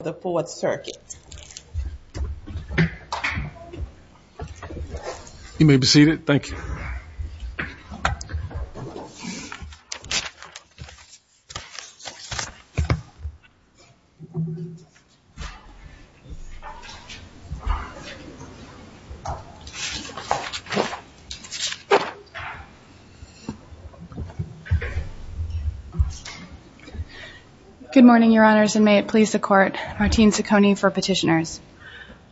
the Fourth Circuit. You may be seated, thank you. Good morning, Your Honors, and may it please the Court. Martine Ciccone for Petitioners.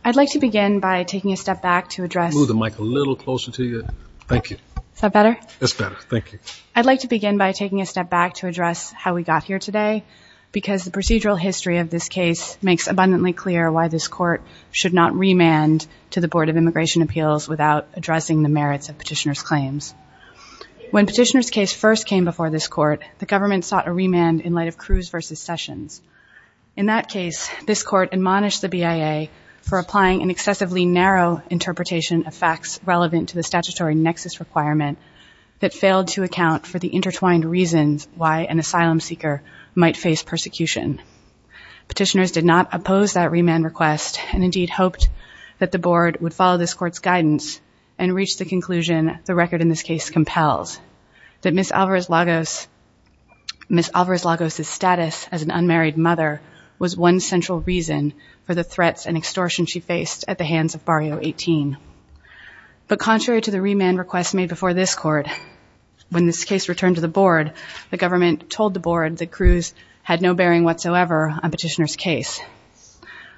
I'd like to begin by taking a step back to address- Move the mic a little closer to you. Thank you. Is that better? That's better, thank you. I'd like to begin by taking a step back to address how we got here today because the procedural history of this case makes abundantly clear why this Court should not remand to the Board of Immigration Appeals without addressing the merits of Petitioners' claims. When Petitioners' case first came before this Court, the government sought a remand in light of Cruz v. Sessions. In that case, this Court admonished the BIA for applying an excessively narrow interpretation of facts relevant to the statutory nexus requirement that failed to account for the intertwined reasons why an asylum seeker might face persecution. Petitioners did not oppose that remand request and indeed hoped that the Board would follow this Court's guidance and reach the conclusion the record in this case compels, that Ms. Alvarez-Lagos' status as an unmarried mother was one central reason for the threats and extortion she faced at the hands of Barrio 18. But contrary to the remand request made before this Court, when this case returned to the Board, the government told the Board that Cruz had no bearing whatsoever on Petitioners' case.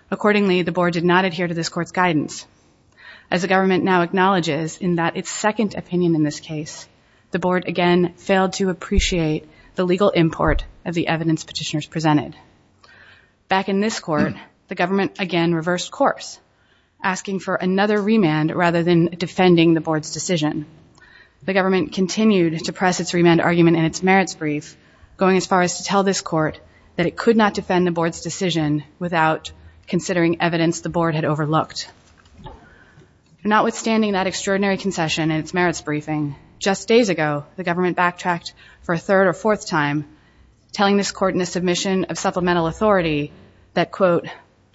Accordingly, the Board did not adhere to this Court's guidance. As the government now acknowledges in that its second opinion in this case, the Board again failed to appreciate the legal import of the evidence Petitioners presented. Back in this course, asking for another remand rather than defending the Board's decision, the government continued to press its remand argument in its merits brief, going as far as to tell this Court that it could not defend the Board's decision without considering evidence the Board had overlooked. Notwithstanding that extraordinary concession in its merits briefing, just days ago, the government backtracked for a third or fourth time, telling this Court in a submission of supplemental authority that, quote,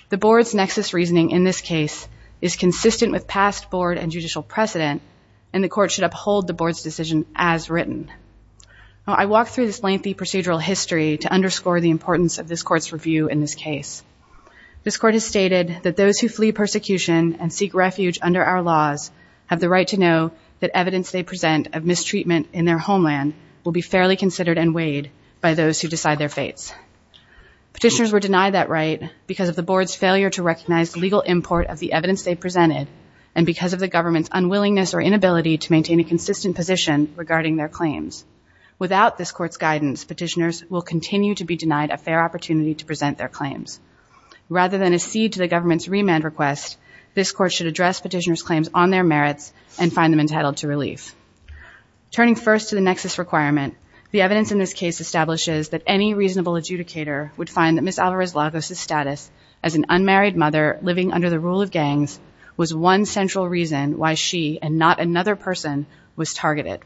the Board's nexus reasoning in this case is consistent with past Board and judicial precedent, and the Court should uphold the Board's decision as written. Now, I walked through this lengthy procedural history to underscore the importance of this Court's review in this case. This Court has stated that those who flee persecution and seek refuge under our laws have the right to know that evidence they present of mistreatment in their homeland will be fairly considered and weighed by those who decide their fates. Petitioners were denied that right because of the Board's failure to recognize legal import of the evidence they presented, and because of the government's unwillingness or inability to maintain a consistent position regarding their claims. Without this Court's guidance, Petitioners will continue to be denied a fair opportunity to present their claims. Rather than accede to the government's remand request, this Court should address Petitioners' claims on their merits and find them entitled to relief. Turning first to the nexus requirement, the evidence in this case establishes that any reasonable adjudicator would find that Ms. Alvarez-Lagos' status as an unmarried mother living under the rule of gangs was one central reason why she, and not another person, was targeted.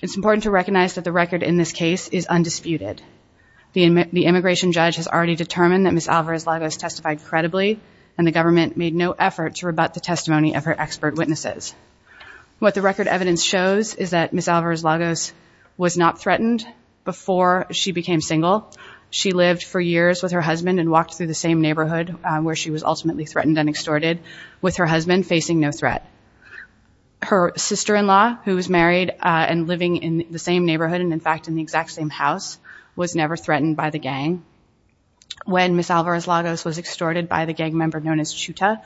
It's important to recognize that the record in this case is undisputed. The immigration judge has already determined that Ms. Alvarez-Lagos testified credibly, and the government made no effort to rebut the testimony of her expert witnesses. What the record evidence shows is that Ms. Alvarez-Lagos was not threatened before she became single. She lived for years with her husband and walked through the same neighborhood where she was ultimately threatened and extorted, with her husband facing no threat. Her sister-in-law, who was married and living in the same neighborhood and, in fact, in the exact same house, was never threatened by the gang. When Ms. Alvarez-Lagos was extorted by the gang member known as Chuta,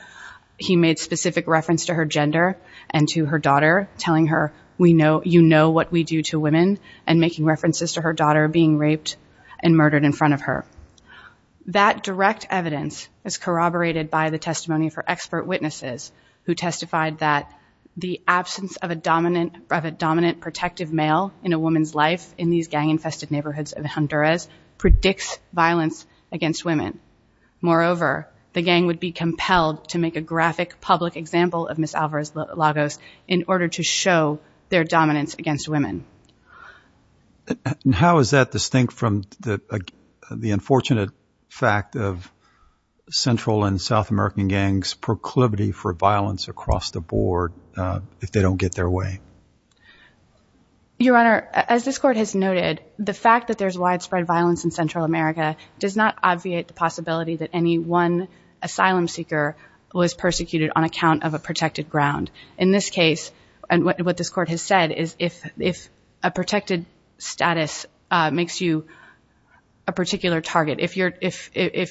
he made specific reference to her gender and to her daughter, telling her, you know what we do to women, and making references to her daughter being raped and murdered in front of her. That direct evidence is corroborated by the testimony of her expert witnesses, who testified that the absence of a dominant protective male in a woman's life in these gang-infested neighborhoods of Honduras predicts violence against women. Moreover, the gang would be compelled to make a graphic public example of Ms. Alvarez-Lagos in order to show their dominance against women. And how is that distinct from the unfortunate fact of Central and South American gangs' proclivity for violence across the board if they don't get their way? Your Honor, as this Court has noted, the fact that there's widespread violence in Central America does not obviate the possibility that any one asylum seeker was persecuted on account of a protected ground. In this case, what this Court has said is if a protected status makes you a particular target, if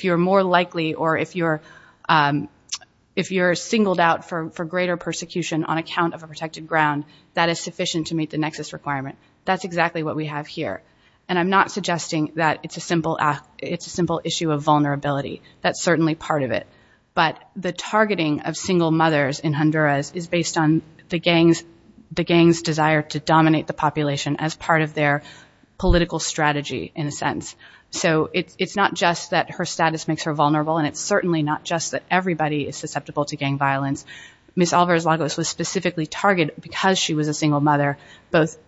you're more likely or if you're singled out for greater persecution on account of a protected ground, that is sufficient to meet the nexus requirement. That's exactly what we have here. And I'm not suggesting that it's a simple issue of is based on the gang's desire to dominate the population as part of their political strategy in a sense. So it's not just that her status makes her vulnerable and it's certainly not just that everybody is susceptible to gang violence. Ms. Alvarez-Lagos was specifically targeted because she was a single mother, both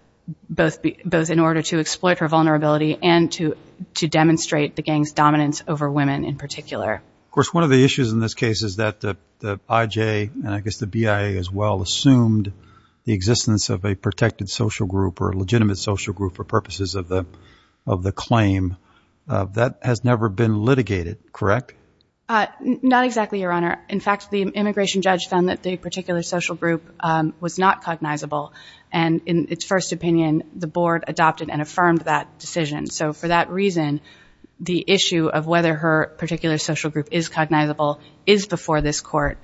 in order to exploit her vulnerability and to demonstrate the gang's dominance over women in particular. Of course, one of the issues in this case is that the IJ and I guess the BIA as well assumed the existence of a protected social group or a legitimate social group for purposes of the claim. That has never been litigated, correct? Not exactly, Your Honor. In fact, the immigration judge found that the particular social group was not cognizable. And in its first opinion, the board adopted and affirmed that decision. So for that reason, the issue of whether her particular social group is cognizable is before this court.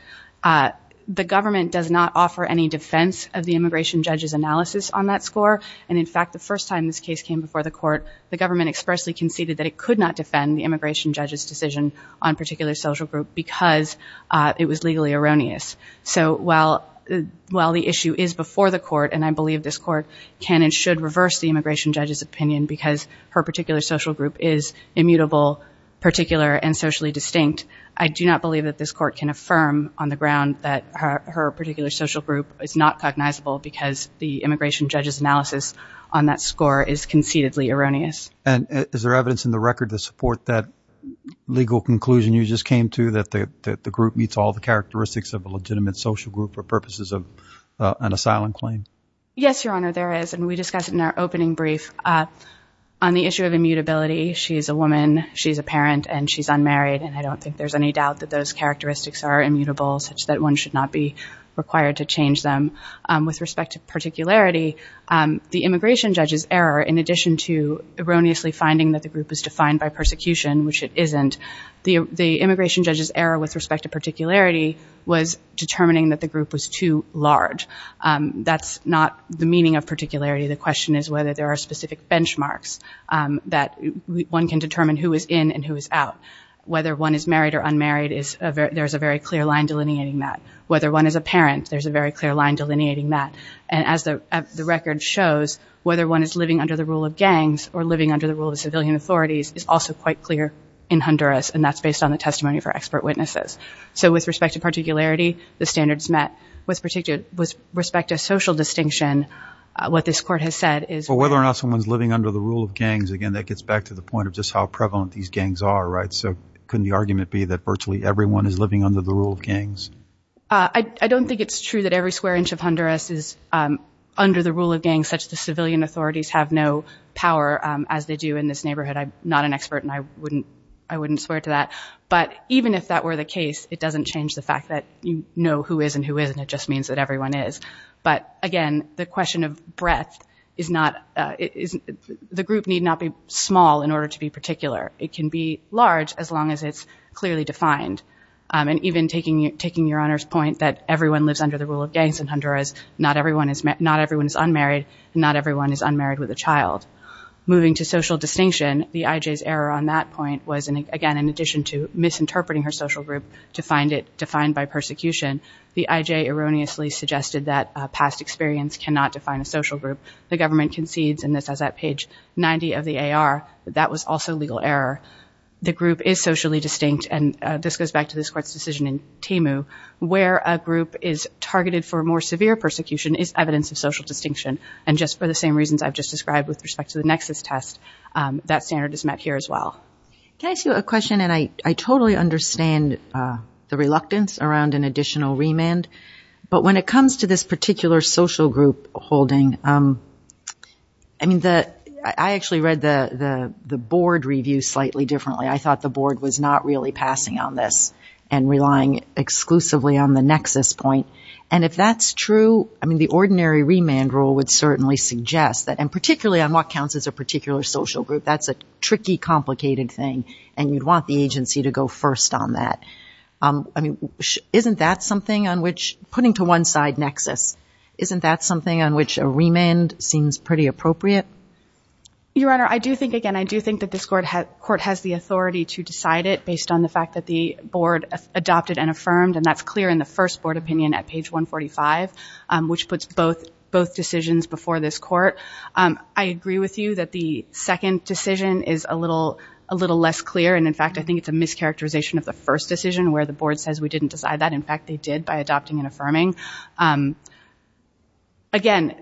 The government does not offer any defense of the immigration judge's analysis on that score. And in fact, the first time this case came before the court, the government expressly conceded that it could not defend the immigration judge's decision on a particular social group because it was legally erroneous. So while the issue is before the court, and I believe this court can and should reverse the immigration judge's opinion because her particular social group is immutable, particular, and socially distinct, I do not believe that this court can affirm on the ground that her particular social group is not cognizable because the immigration judge's analysis on that score is conceitedly erroneous. And is there evidence in the record to support that legal conclusion you just came to, that the group meets all the characteristics of a legitimate social group for purposes of an asylum claim? Yes, Your Honor, there is. And we discussed it in our opening brief. On the issue of immutability, she's a woman, she's a parent, and she's unmarried. And I don't think there's any doubt that those characteristics are immutable such that one should not be required to change them. With respect to particularity, the immigration judge's error, in addition to erroneously finding that the group is defined by persecution, which it isn't, the immigration judge's error with respect to particularity was determining that the group was too large. That's not the meaning of particularity. The question is whether there are specific benchmarks that one can determine who is in and who is out. Whether one is married or unmarried, there's a very clear line delineating that. Whether one is a parent, there's a very clear line delineating that. And as the record shows, whether one is living under the rule of gangs or living under the rule of civilian authorities is also quite clear in Honduras, and that's a testimony for expert witnesses. So with respect to particularity, the standards met. With respect to social distinction, what this Court has said is that... But whether or not someone's living under the rule of gangs, again, that gets back to the point of just how prevalent these gangs are, right? So couldn't the argument be that virtually everyone is living under the rule of gangs? I don't think it's true that every square inch of Honduras is under the rule of gangs such that civilian authorities have no power, as they do in this neighborhood. I'm not an expert on that, but even if that were the case, it doesn't change the fact that you know who is and who isn't. It just means that everyone is. But again, the question of breadth is not... The group need not be small in order to be particular. It can be large as long as it's clearly defined. And even taking Your Honor's point that everyone lives under the rule of gangs in Honduras, not everyone is unmarried, and not everyone is unmarried with a child. Moving to social distinction, the I.J.'s error on that point was, again, in addition to misinterpreting her social group to find it defined by persecution, the I.J. erroneously suggested that past experience cannot define a social group. The government concedes in this as at page 90 of the AR that that was also legal error. The group is socially distinct, and this goes back to this Court's decision in Temu, where a group is targeted for more severe persecution is evidence of respect to the nexus test. That standard is met here as well. Can I ask you a question? And I totally understand the reluctance around an additional remand. But when it comes to this particular social group holding, I actually read the board review slightly differently. I thought the board was not really passing on this and relying exclusively on the nexus point. And if that's true, the ordinary remand rule would certainly suggest that, and particularly on what counts as a particular social group, that's a tricky, complicated thing, and you'd want the agency to go first on that. I mean, isn't that something on which, putting to one side nexus, isn't that something on which a remand seems pretty appropriate? Your Honor, I do think, again, I do think that this Court has the authority to decide it based on the fact that the board adopted and affirmed, and that's clear in the first board opinion at page 145, which puts both decisions before this Court. I agree with you that the second decision is a little less clear, and in fact, I think it's a mischaracterization of the first decision where the board says we didn't decide that. In fact, they did by adopting and affirming. Again,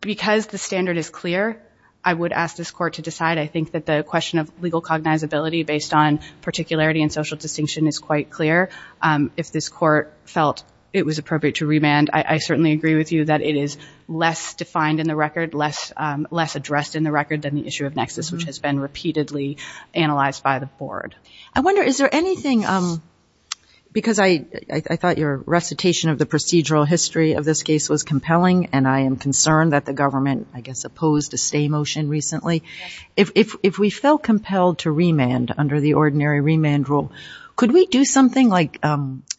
because the standard is clear, I would ask this Court to decide. I think that the question of legal cognizability based on particularity and social distinction is quite clear. If this Court felt it was appropriate to remand, I certainly agree with you that it is less defined in the record, less addressed in the record than the issue of nexus, which has been repeatedly analyzed by the board. I wonder, is there anything, because I thought your recitation of the procedural history of this case was compelling, and I am concerned that the government, I guess, opposed a stay motion recently. If we felt compelled to remand under the ordinary remand rule, could we do something like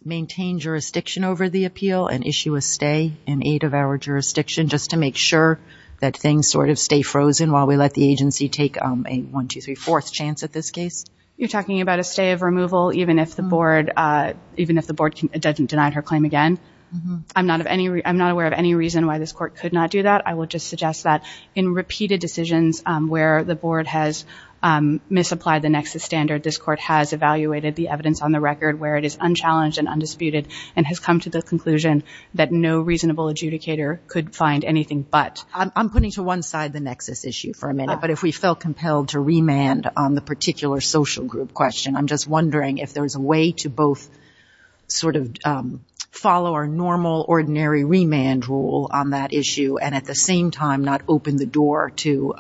maintain jurisdiction over the appeal and issue a stay in eight-of-hour jurisdiction just to make sure that things sort of stay frozen while we let the agency take a one, two, three, fourth chance at this case? You're talking about a stay of removal even if the board doesn't deny her claim again? I'm not aware of any reason why this Court could not do that. I would just suggest that in repeated decisions where the board has misapplied the nexus standard, this Court has evaluated the evidence on the record where it is unchallenged and undisputed and has come to the conclusion that no reasonable adjudicator could find anything but. I'm putting to one side the nexus issue for a minute, but if we felt compelled to remand on the particular social group question, I'm just wondering if there's a way to both sort of follow our normal ordinary remand rule on that issue and at the same time not open the door to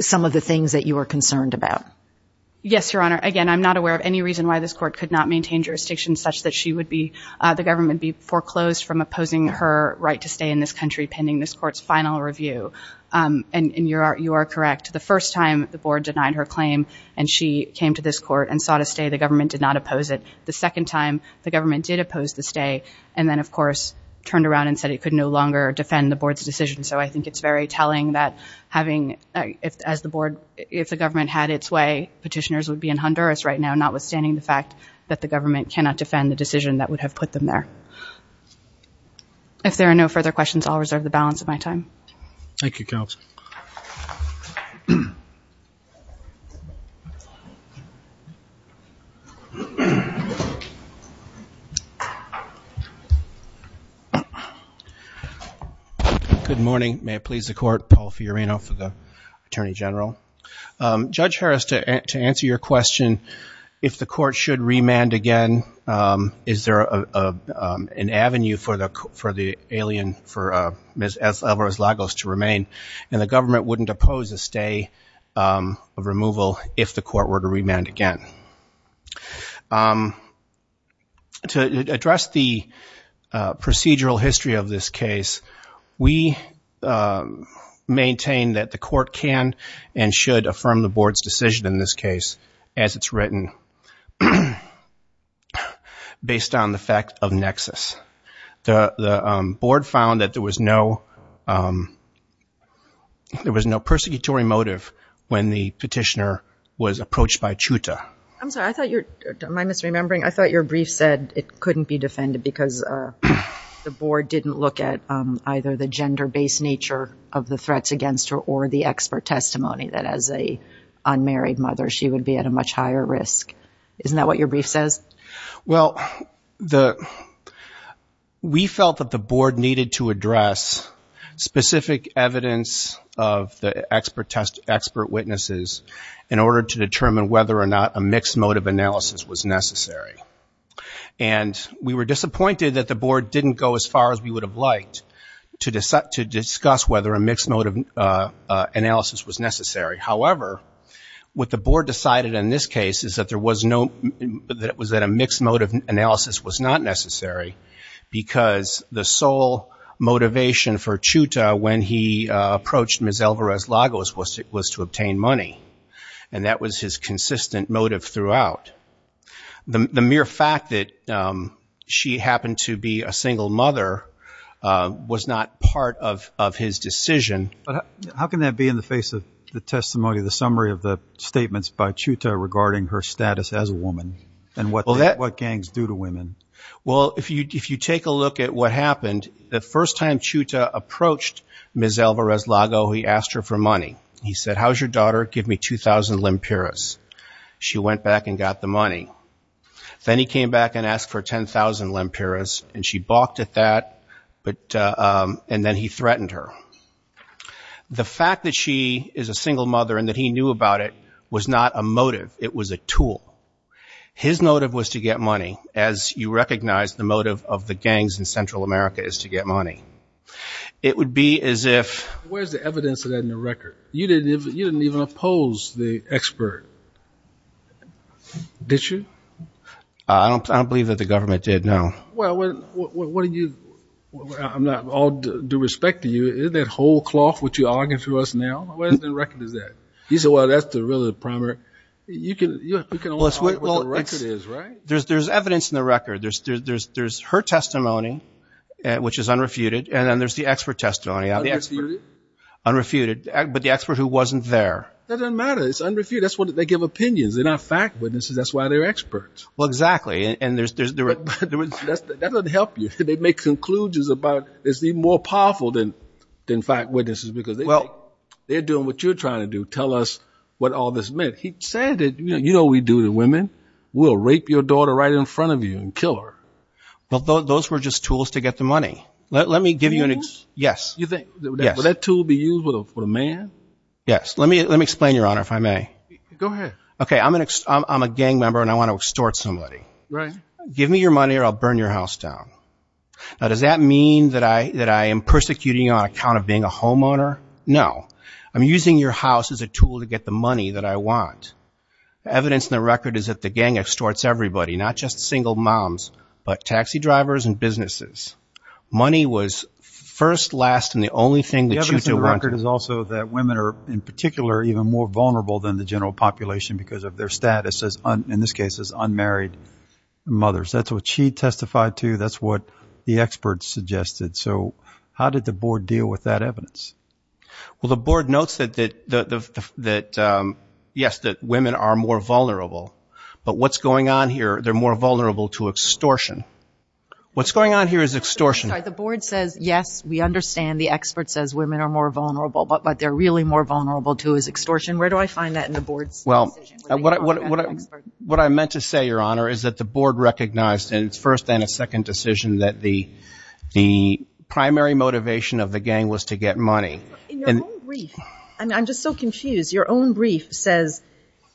some of the things that you are concerned about. Yes, Your Honor. Again, I'm not aware of any reason why this Court could not maintain jurisdiction such that the government be foreclosed from opposing her right to stay in this country pending this Court's final review. And you are correct. The first time the board denied her claim and she came to this Court and sought a stay, the government did not oppose it. The second time, the government did oppose the stay and then, of course, turned around and said it could no longer defend the board's decision. So I think it's very telling that having, as the board, if the government had its way, petitioners would be in Honduras right now, notwithstanding the fact that the government cannot defend the decision that would have put them there. If there are no further questions, I'll reserve the balance of my time. Thank you, Counsel. Good morning. May it please the Court, Paul Fiorino for the Attorney General. Judge Harris, to answer your question, if the Court should remand again, is there an avenue for the alien, for Ms. Alvarez-Lagos to remain, and the government wouldn't oppose a stay of removal if the Court were to remand again? To address the procedural history of this case, we maintain that the Court can and should affirm the board's decision in this case as it's written, based on the fact of nexus. The board found that there was no persecutory motive when the petitioner was approached by CHUTA. I'm sorry, am I misremembering? I thought your brief said it couldn't be defended because the board didn't look at either the gender-based nature of the threats against her or the expert testimony that as an unmarried mother, she would be at a much higher risk. Isn't that what your brief says? Well, we felt that the board needed to address specific evidence of the expert witnesses in order to determine whether or not a mixed motive analysis was necessary. And we were disappointed that the board didn't go as far as we would have liked to discuss whether a mixed motive analysis was necessary. However, what the board decided in this case is that a mixed motive analysis was not necessary because the sole motivation for CHUTA when he approached Ms. Alvarez-Lagos was to obtain money. And that was his consistent motive throughout. The mere fact that she happened to be a single mother was not part of his decision. But how can that be in the face of the testimony, the summary of the statements by CHUTA regarding her status as a woman and what gangs do to women? Well, if you take a look at what happened, the first time CHUTA approached Ms. Alvarez-Lagos, he asked her for money. He said, how's your daughter? Give me 2,000 lempiras. She went back and got the money. Then he came back and asked for 10,000 lempiras, and she balked at that, and then he threatened her. The fact that she is a single mother and that he knew about it was not a motive. It was a tool. His motive was to get money, as you recognize the motive of the gangs in Central America is to get money. It would be as if— Where's the evidence of that in the record? You didn't even oppose the expert, did you? I don't believe that the government did, no. Well, what do you—I'm not all due respect to you. That whole cloth which you're arguing for us now, where in the record is that? You said, well, that's really the primary— You can only talk about what the record is, right? There's evidence in the record. There's her testimony, which is unrefuted, and then there's the expert testimony of the expert— Unrefuted? Unrefuted, but the expert who wasn't there. That doesn't matter. It's unrefuted. That's why they give opinions. They're not fact witnesses. That's why they're experts. Well, exactly. That doesn't help you. They make conclusions about—it's even more powerful than fact witnesses. Well, they're doing what you're trying to do, tell us what all this meant. He said that, you know we do to women. We'll rape your daughter right in front of you and kill her. Well, those were just tools to get the money. Let me give you an— Tools? Yes. You think? Would that tool be used for a man? Yes. Let me explain, Your Honor, if I may. Go ahead. Okay, I'm a gang member, and I want to extort somebody. Right. Give me your money, or I'll burn your house down. Now, does that mean that I am persecuting you on account of being a homeowner? No. I'm using your house as a tool to get the money that I want. The evidence in the record is that the gang extorts everybody, not just single moms, but taxi drivers and businesses. Money was first, last, and the only thing that you wanted. The evidence in the record is also that women are, in particular, even more vulnerable than the general population because of their status as, in this case, as unmarried mothers. That's what she testified to. That's what the experts suggested. So, how did the board deal with that evidence? Well, the board notes that, yes, that women are more vulnerable, but what's going on here, they're more vulnerable to extortion. What's going on here is extortion. The board says, yes, we understand. The expert says women are more vulnerable, but what they're really more vulnerable to is extortion. Where do I find that in the board's decision? What I meant to say, Your Honor, is that the board recognized in its first and its second decision that the primary motivation of the gang was to get money. In your own brief, I'm just so confused, your own brief says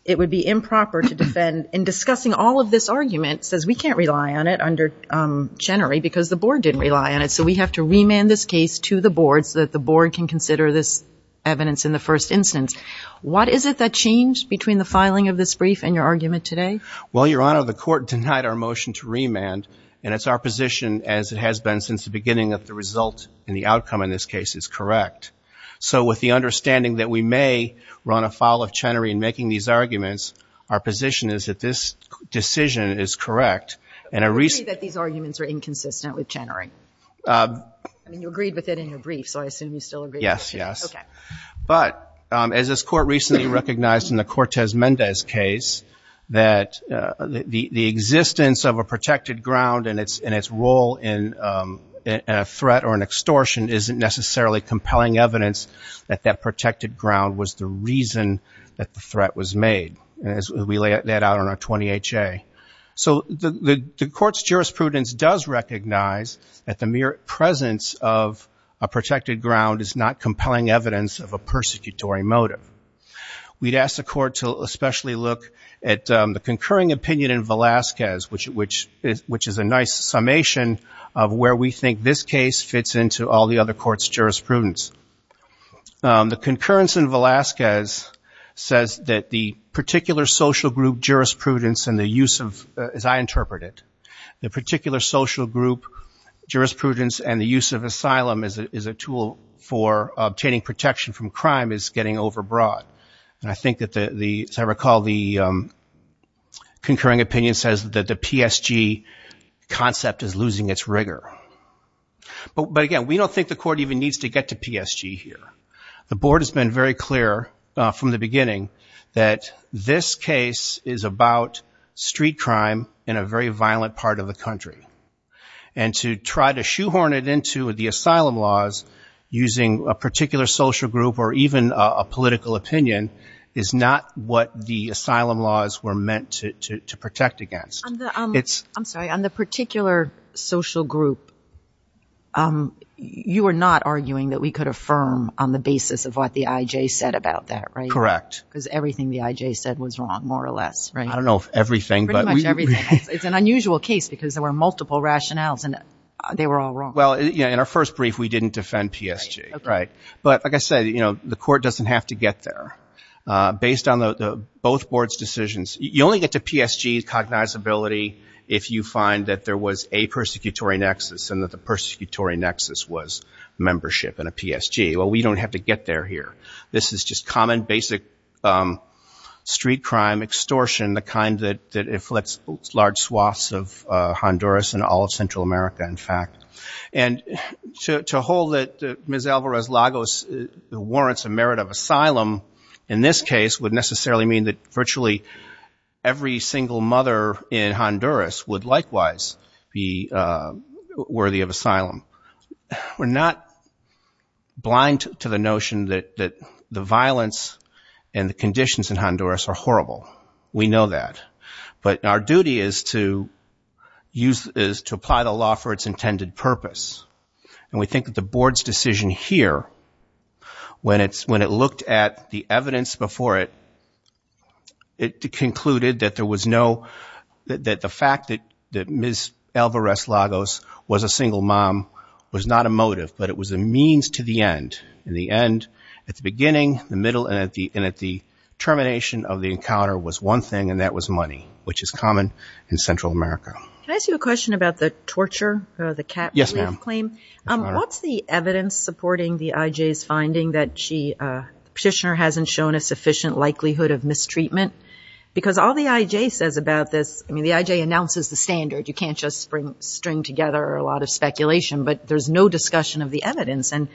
it would be improper to defend in discussing all of this argument, says we can't rely on it under Chenery because the board didn't rely on it, so we have to remand this case to the board so that the board can of this brief and your argument today? Well, Your Honor, the court denied our motion to remand, and it's our position, as it has been since the beginning, that the result and the outcome in this case is correct. So, with the understanding that we may run afoul of Chenery in making these arguments, our position is that this decision is correct, and a reason I agree that these arguments are inconsistent with Chenery. I mean, you agreed with it in your brief, so I assume you still agree with it. Yes. But, as this court recently recognized in the Cortez-Mendez case, that the existence of a protected ground and its role in a threat or an extortion isn't necessarily compelling evidence that that protected ground was the reason that the threat was made, as we lay that out on our 20HA. So, the court's jurisprudence does recognize that the mere presence of a protected ground is compelling evidence of a persecutory motive. We'd ask the court to especially look at the concurring opinion in Velazquez, which is a nice summation of where we think this case fits into all the other courts' jurisprudence. The concurrence in Velazquez says that the particular social group jurisprudence and the use of, as I interpret it, the particular social group jurisprudence and the use of asylum is a tool for obtaining protection from crime is getting overbroad. And I think that, as I recall, the concurring opinion says that the PSG concept is losing its rigor. But, again, we don't think the court even needs to get to PSG here. The board has been very clear from the beginning that this case is about street crime in a very violent part of the country. And to try to use a social group or even a political opinion is not what the asylum laws were meant to protect against. I'm sorry. On the particular social group, you are not arguing that we could affirm on the basis of what the IJ said about that, right? Correct. Because everything the IJ said was wrong, more or less, right? I don't know if everything, but we... Pretty much everything. It's an unusual case because there were multiple rationales and they were all wrong. Well, in our first brief, we didn't defend PSG, right? But, like I said, the court doesn't have to get there. Based on both boards' decisions, you only get to PSG cognizability if you find that there was a persecutory nexus and that the persecutory nexus was membership in a PSG. Well, we don't have to get there here. This is just common, basic street crime extortion, the kind that afflicts large swaths of Honduras and all of Central America, in fact. And to hold that Ms. Alvarez-Lagos warrants a merit of asylum in this case would necessarily mean that virtually every single mother in Honduras would likewise be worthy of asylum. We're not blind to the notion that the violence and the conditions in Honduras are horrible. We know that. But our duty is to apply the law for its intended purpose. And we think that the board's decision here, when it looked at the evidence before it, it concluded that there was no... That the fact that Ms. Alvarez-Lagos was a single mom was not a motive, but it was a means to the end. In the end, at the beginning, the middle, and at the termination of the encounter was one thing, and that was money, which is common in Central America. Can I ask you a question about the torture, the cap relief claim? Yes, ma'am. What's the evidence supporting the IJ's finding that she, the petitioner, hasn't shown a sufficient likelihood of mistreatment? Because all the IJ says about this, I mean, the IJ announces the standard. You can't just string together a lot of speculation. But there's no discussion of the evidence. And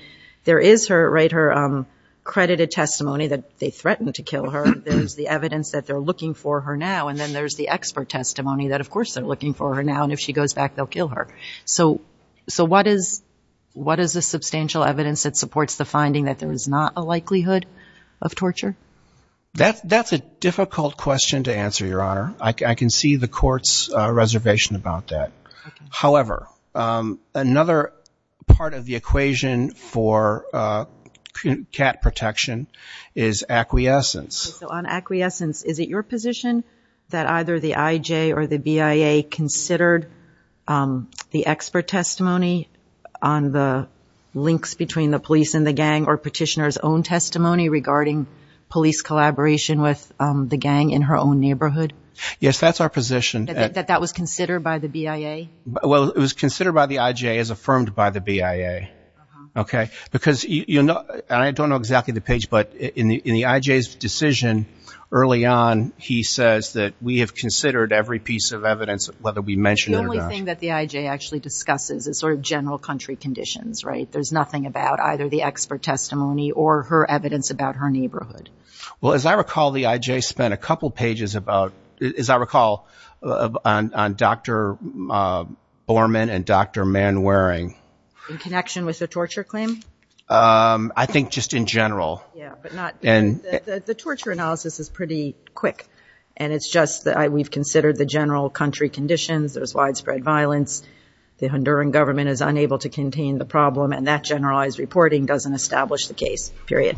there is her, right, her credited testimony that they threatened to kill her. There's the evidence that they're looking for her now. And then there's the expert testimony that, of course, they're looking for her now. And if she goes back, they'll kill her. So what is the substantial evidence that supports the finding that there is not a likelihood of torture? That's a difficult question to answer, Your Honor. I can see the court's reservation about that. However, another part of the equation for cat protection is acquiescence. So on acquiescence, is it your position that either the IJ or the BIA considered the expert testimony on the links between the police and the gang or petitioner's own testimony regarding police collaboration with the gang in her own neighborhood? Yes, that's our position. That that was considered by the BIA? Well, it was considered by the IJ as affirmed by the BIA. Okay? Because you know, and I don't know exactly the page, but in the IJ's decision early on, he says that we have considered every piece of evidence, whether we mention it or not. The only thing that the IJ actually discusses is sort of general country conditions, right? There's nothing about either the expert testimony or her evidence about her neighborhood. Well, as I recall, the IJ spent a couple pages about, as I recall, on Dr. Borman and Dr. Manwaring. In connection with the torture claim? I think just in general. The torture analysis is pretty quick, and it's just that we've considered the general country conditions. There's widespread violence. The Honduran government is unable to contain the problem, and that generalized reporting doesn't establish the case, period.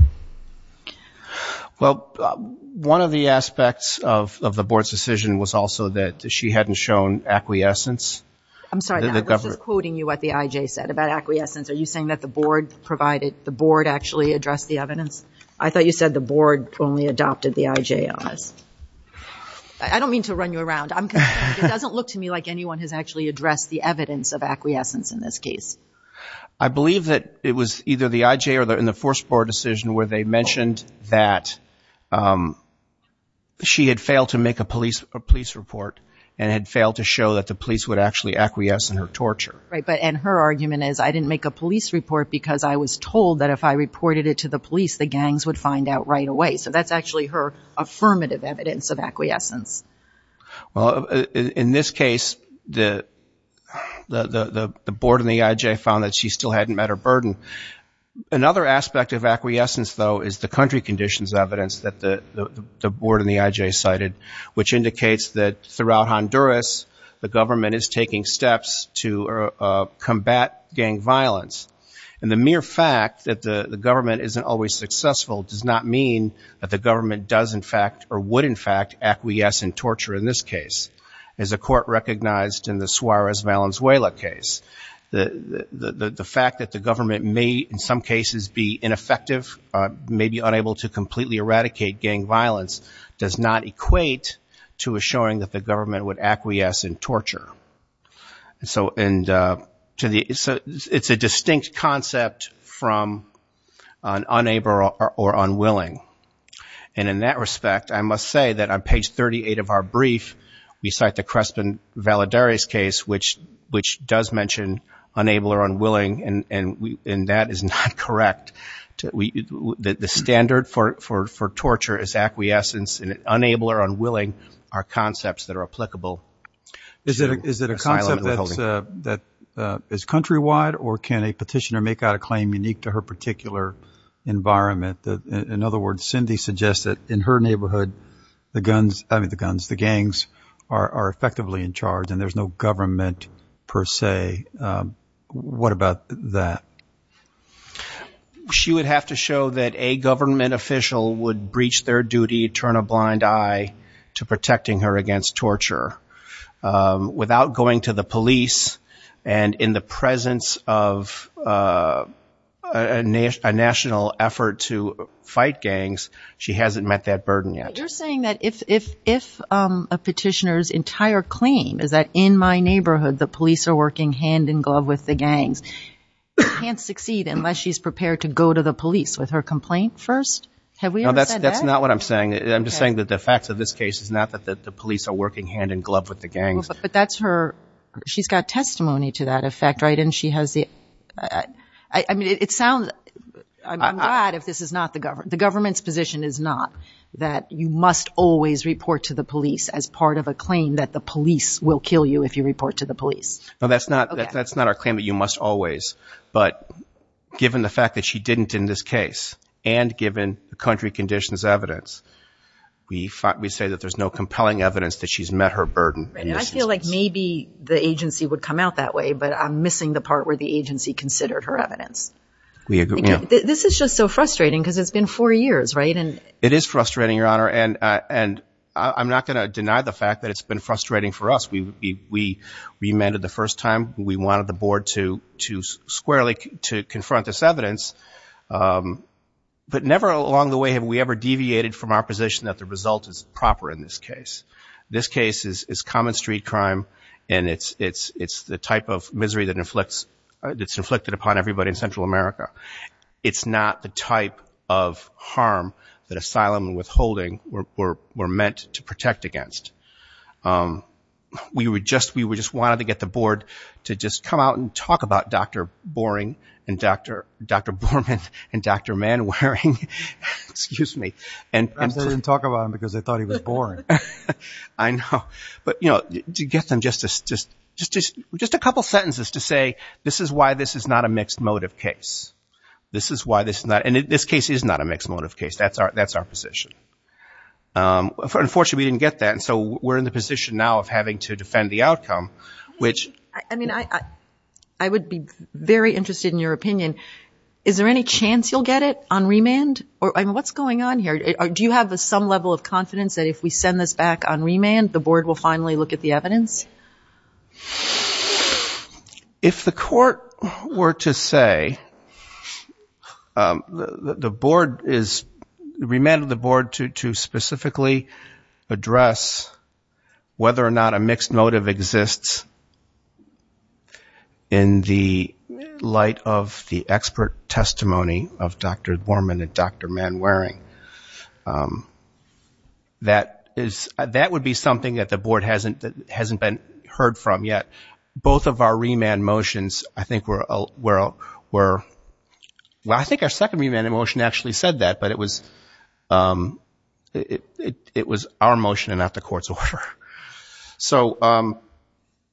Well, one of the aspects of the board's decision was also that she hadn't shown acquiescence. I'm sorry, I was just quoting you what the IJ said about acquiescence. Are you saying that the board provided, the board actually addressed the evidence? I thought you said the board only adopted the IJ on this. I don't mean to run you around. It doesn't look to me like anyone has actually addressed the evidence of acquiescence in this case. I believe that it was either the IJ or in the first board decision where they mentioned that she had failed to make a police report and had failed to show that the police would actually acquiesce in her torture. And her argument is, I didn't make a police report because I was told that if I reported it to the police, the gangs would find out right away. So that's actually her affirmative evidence of acquiescence. Well, in this case, the board and the IJ found that she still hadn't met her burden. Another aspect of acquiescence, though, is the country conditions evidence that the board and the IJ cited, which indicates that throughout Honduras, the government is taking steps to combat gang violence. And the mere fact that the government isn't always successful does not mean that the government does, in fact, or would, in fact, acquiesce in torture in this case, as the court recognized in the Suarez-Valenzuela case. The fact that the government may, in some cases, be ineffective, may be unable to completely eradicate gang violence does not equate to assuring that the government would acquiesce in torture. And so it's a distinct concept from unable or unwilling. And in that respect, I must say that on page 38 of our brief, we cite the Crespin-Valadares case, which does mention unable or unwilling, and that is not correct. The standard for torture is acquiescence, and unable or unwilling are concepts that are applicable to asylum and withholding. Is it a concept that is countrywide, or can a petitioner make out a claim unique to her particular environment? In other words, Cindy suggests that in her neighborhood, the gangs are effectively in charge and there's no government, per se. What about that? She would have to show that a government official would breach their duty, turn a blind eye to protecting her against torture. Without going to the police, and in the presence of a national effort to fight gangs, she hasn't met that burden yet. You're saying that if a petitioner's entire claim is that, in my neighborhood, the police are working hand-in-glove with the gangs, she can't succeed unless she's prepared to go to the police with her complaint first? Have we ever said that? That's not what I'm saying. I'm just saying that the facts of this case is not that the police are working hand-in-glove with the gangs. But that's her, she's got testimony to that effect, right? And she has the, I mean, it sounds, I'm glad if this is not the government, the government's position is not that you must always report to the police as part of a claim that the police will kill you if you No, that's not our claim that you must always, but given the fact that she didn't in this case, and given the country conditions evidence, we say that there's no compelling evidence that she's met her burden. Right, and I feel like maybe the agency would come out that way, but I'm missing the part where the agency considered her evidence. This is just so frustrating because it's been four years, right? It is frustrating, Your Honor, and I'm not going to deny the fact that it's been frustrating for us. We amended the first time, we wanted the board to squarely confront this evidence, but never along the way have we ever deviated from our position that the result is proper in this case. This case is common street crime, and it's the type of misery that inflicts, it's inflicted upon everybody in Central America. It's not the type of harm that asylum and we just wanted to get the board to just come out and talk about Dr. Borman and Dr. Manwaring. I'm sorry, I didn't talk about him because I thought he was boring. I know, but you know, to get them just a couple sentences to say, this is why this is not a mixed motive case. This is why this is not, and this case is not a mixed motive case. That's our position. Unfortunately, we didn't get that, and so we're in the position now of having to defend the outcome, which- I mean, I would be very interested in your opinion. Is there any chance you'll get it on remand? What's going on here? Do you have some level of confidence that if we send this back on remand, the board will finally look at the evidence? If the court were to say, the board is, remanded the board to specifically address whether or not a mixed motive exists in the light of the expert testimony of Dr. Borman and Dr. Manwaring, that would be something that the board hasn't been able to do. We haven't heard from yet. Both of our remand motions, I think were, well, I think our second remand motion actually said that, but it was our motion and not the court's order. So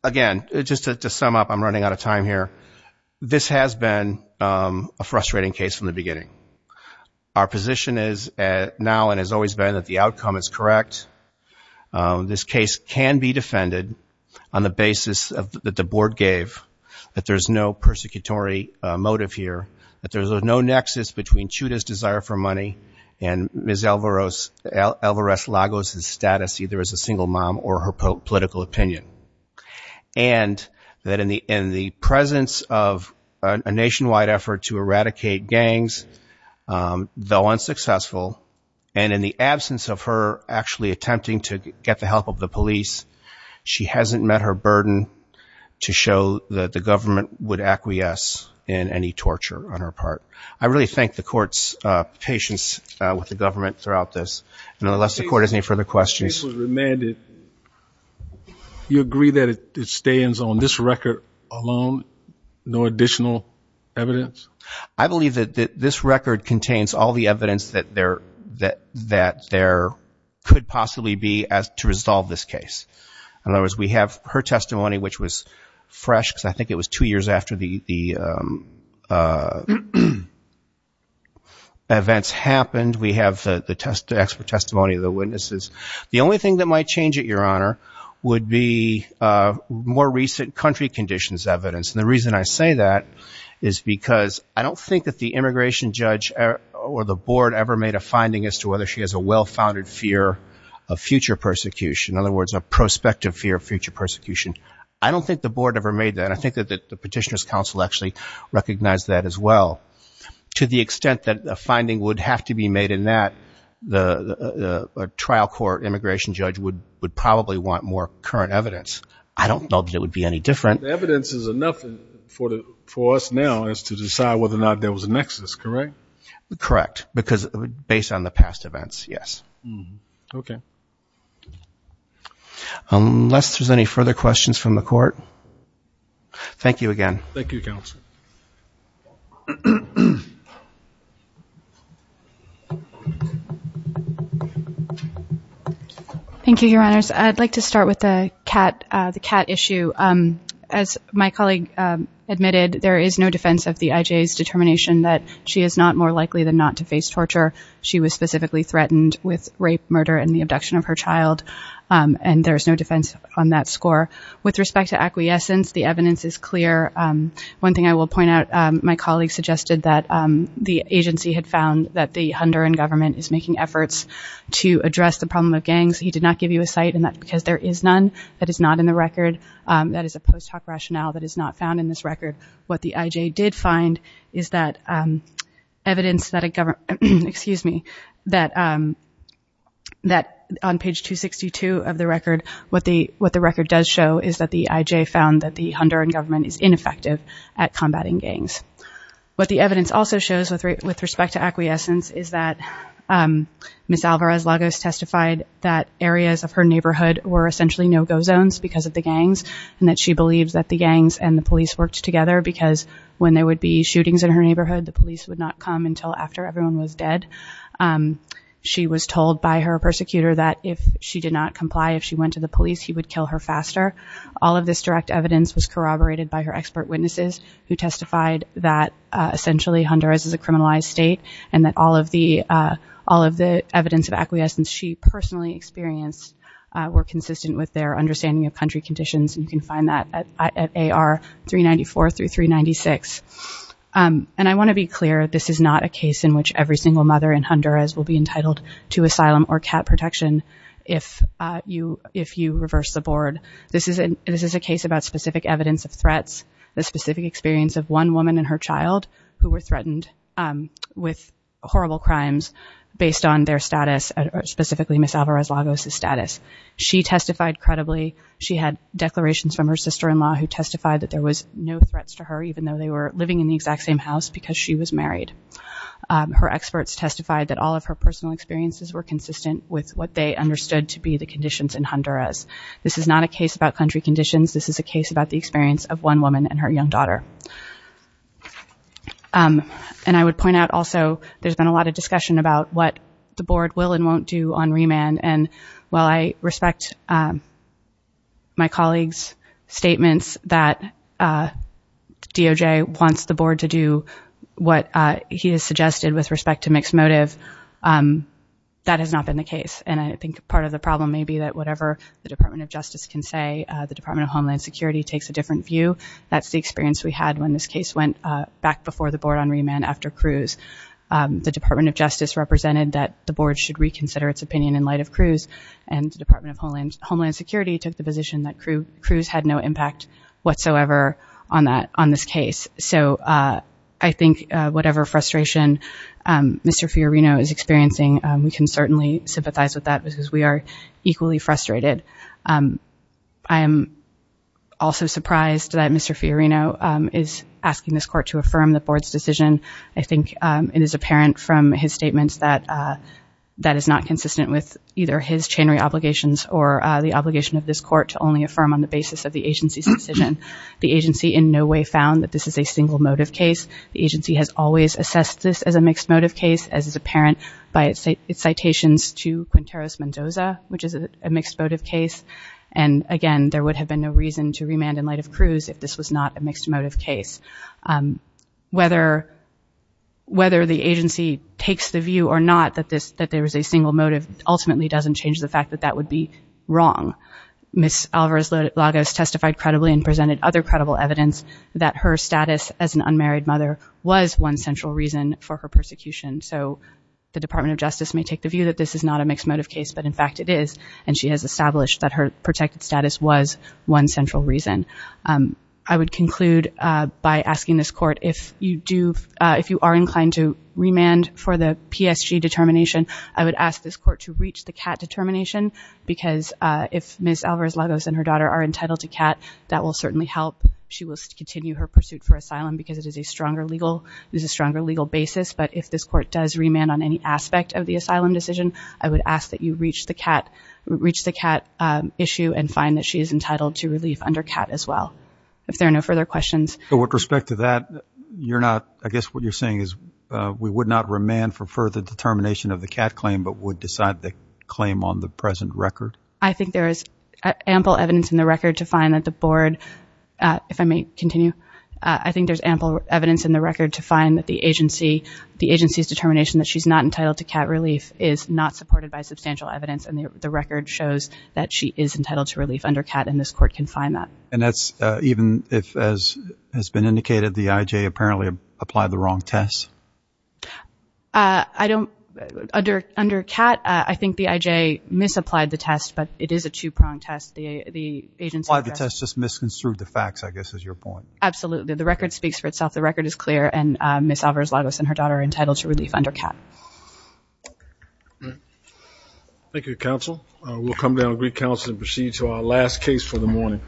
again, just to sum up, I'm running out of time here. This has been a frustrating case from the beginning. Our position is now and has always been that the outcome is correct. This case can be defended on the basis that the board gave, that there's no persecutory motive here, that there's no nexus between Chuda's desire for money and Ms. Alvarez-Lagos's status either as a single mom or her political opinion. And that in the presence of a nationwide effort to eradicate gangs, though unsuccessful, and in the absence of her actually attempting to get the help of the police, she hasn't met her burden to show that the government would acquiesce in any torture on her part. I really thank the court's patience with the government throughout this. And unless the court has any further questions. The case was remanded. You agree that it stands on this record alone, no additional evidence I believe that this record contains all the evidence that there could possibly be to resolve this case. In other words, we have her testimony, which was fresh, because I think it was two years after the events happened. We have the expert testimony of the witnesses. The only thing that might change it, Your Honor, would be more recent country conditions evidence. The reason I say that is because I don't think that the immigration judge or the board ever made a finding as to whether she has a well-founded fear of future persecution. In other words, a prospective fear of future persecution. I don't think the board ever made that. I think that the Petitioner's Council actually recognized that as well. To the extent that a finding would have to be made in that, the trial court immigration judge would probably want more current evidence. I don't know that it would be any different. The evidence is enough for us now as to decide whether or not there was a nexus, correct? Correct. Based on the past events, yes. Unless there's any further questions from the court, thank you again. Thank you, Counsel. Thank you, Your Honors. I'd like to start with the CAT issue. As my colleague admitted, there is no defense of the IJA's determination that she is not more likely than not to face torture. She was specifically threatened with rape, murder, and the abduction of her child. And there is no defense on that score. With respect to acquiescence, the evidence is clear. One thing I will point out, my colleague suggested that the agency had found that the Honduran government is making efforts to address the problem of gangs. He did not give you a site because there is none that is not in the record. That is a post hoc rationale that is not found in this record. What the IJA did find is that evidence that a government, excuse me, that on page 262 of the record, what the record does show is that the IJA found that the Honduran government is ineffective at combating gangs. What the evidence also shows with respect to acquiescence is that Ms. Alvarez Lagos testified that areas of her neighborhood were essentially no-go zones because of the gangs, and that she believes that the gangs and the police worked together because when there would be shootings in her neighborhood, the police would not come until after everyone was dead. She was told by her persecutor that if she did not comply, if she went to the police, he would kill her faster. All of this direct evidence was corroborated by her expert witnesses who testified that essentially Honduras is a criminalized state and that all of the evidence of acquiescence she personally experienced were consistent with their understanding of country conditions. You can find that at AR 394 through 396. And I want to be clear, this is not a case in which every single mother in Honduras will be entitled to asylum or cat protection if you reverse the board. This is a case about specific evidence of threats, the specific experience of one woman and her child who were threatened with horrible crimes based on their status, specifically Ms. Alvarez Lagos' status. She testified credibly. She had declarations from her sister-in-law who testified that there was no threats to her even though they were living in the exact same house because she was married. Her experts testified that all of her personal experiences were consistent with what they understood to be the conditions in Honduras. This is not a case about country conditions. This is a case about the experience of one woman and her young daughter. And I would point out also there's been a lot of discussion about what the board will and won't do on remand. And while I respect my colleague's statements that DOJ wants the board to do what he has suggested with respect to mixed motive, that has not been the case. And I think part of the problem may be that whatever the Department of Justice can say, the Department of Homeland Security takes a different view. That's the experience we had when this case went back before the board on remand after Cruz. The Department of Justice represented that the board should reconsider its opinion in light of Cruz and the Department of Homeland Security took the position that Cruz had no impact whatsoever on this case. So I think whatever frustration Mr. Fiorino is experiencing, we can certainly sympathize with that because we are equally frustrated. I am also surprised that Mr. Fiorino is asking this court to affirm the board's decision. I think it is apparent from his statements that that is not consistent with either his chain re-obligations or the obligation of this court to only affirm on the basis of the agency's decision. The agency in no way found that this is a single motive case. The agency has always assessed this as a mixed motive case, as is apparent by its citations to Quinteros-Mendoza, which is a mixed motive case. And again, there would have been no reason to remand in light of Cruz if this was not a mixed motive case. Whether the agency takes the view or not that there is a single motive ultimately doesn't change the fact that that would be wrong. Ms. Alvarez-Lagos testified credibly and presented other credible evidence that her status as an unmarried mother was one central reason for her persecution. So the Department of Justice may take the view that this is not a mixed motive case, but in fact it is. And she has established that her protected status was one central reason. I would conclude by asking this court if you are inclined to remand for the PSG determination, I would ask this court to reach the CAT determination because if Ms. Alvarez-Lagos and her daughter are legal basis, but if this court does remand on any aspect of the asylum decision, I would ask that you reach the CAT issue and find that she is entitled to relief under CAT as well. If there are no further questions. But with respect to that, I guess what you're saying is we would not remand for further determination of the CAT claim, but would decide the claim on the present record? I think there is ample evidence in the record to find that the board, if I may continue, I think there is ample evidence in the record to find that the agency's determination that she is not entitled to CAT relief is not supported by substantial evidence and the record shows that she is entitled to relief under CAT and this court can find that. And that's even if, as has been indicated, the IJ apparently applied the wrong test? I don't, under CAT, I think the IJ misapplied the test, but it is a two-pronged test. Why the test just misconstrued the facts, I guess is your point. Absolutely. The record speaks for itself. The record is clear and Ms. Alvarez-Lagos and her daughter are entitled to relief under CAT. Thank you, counsel. We'll come down to greet counsel and proceed to our last case for the morning.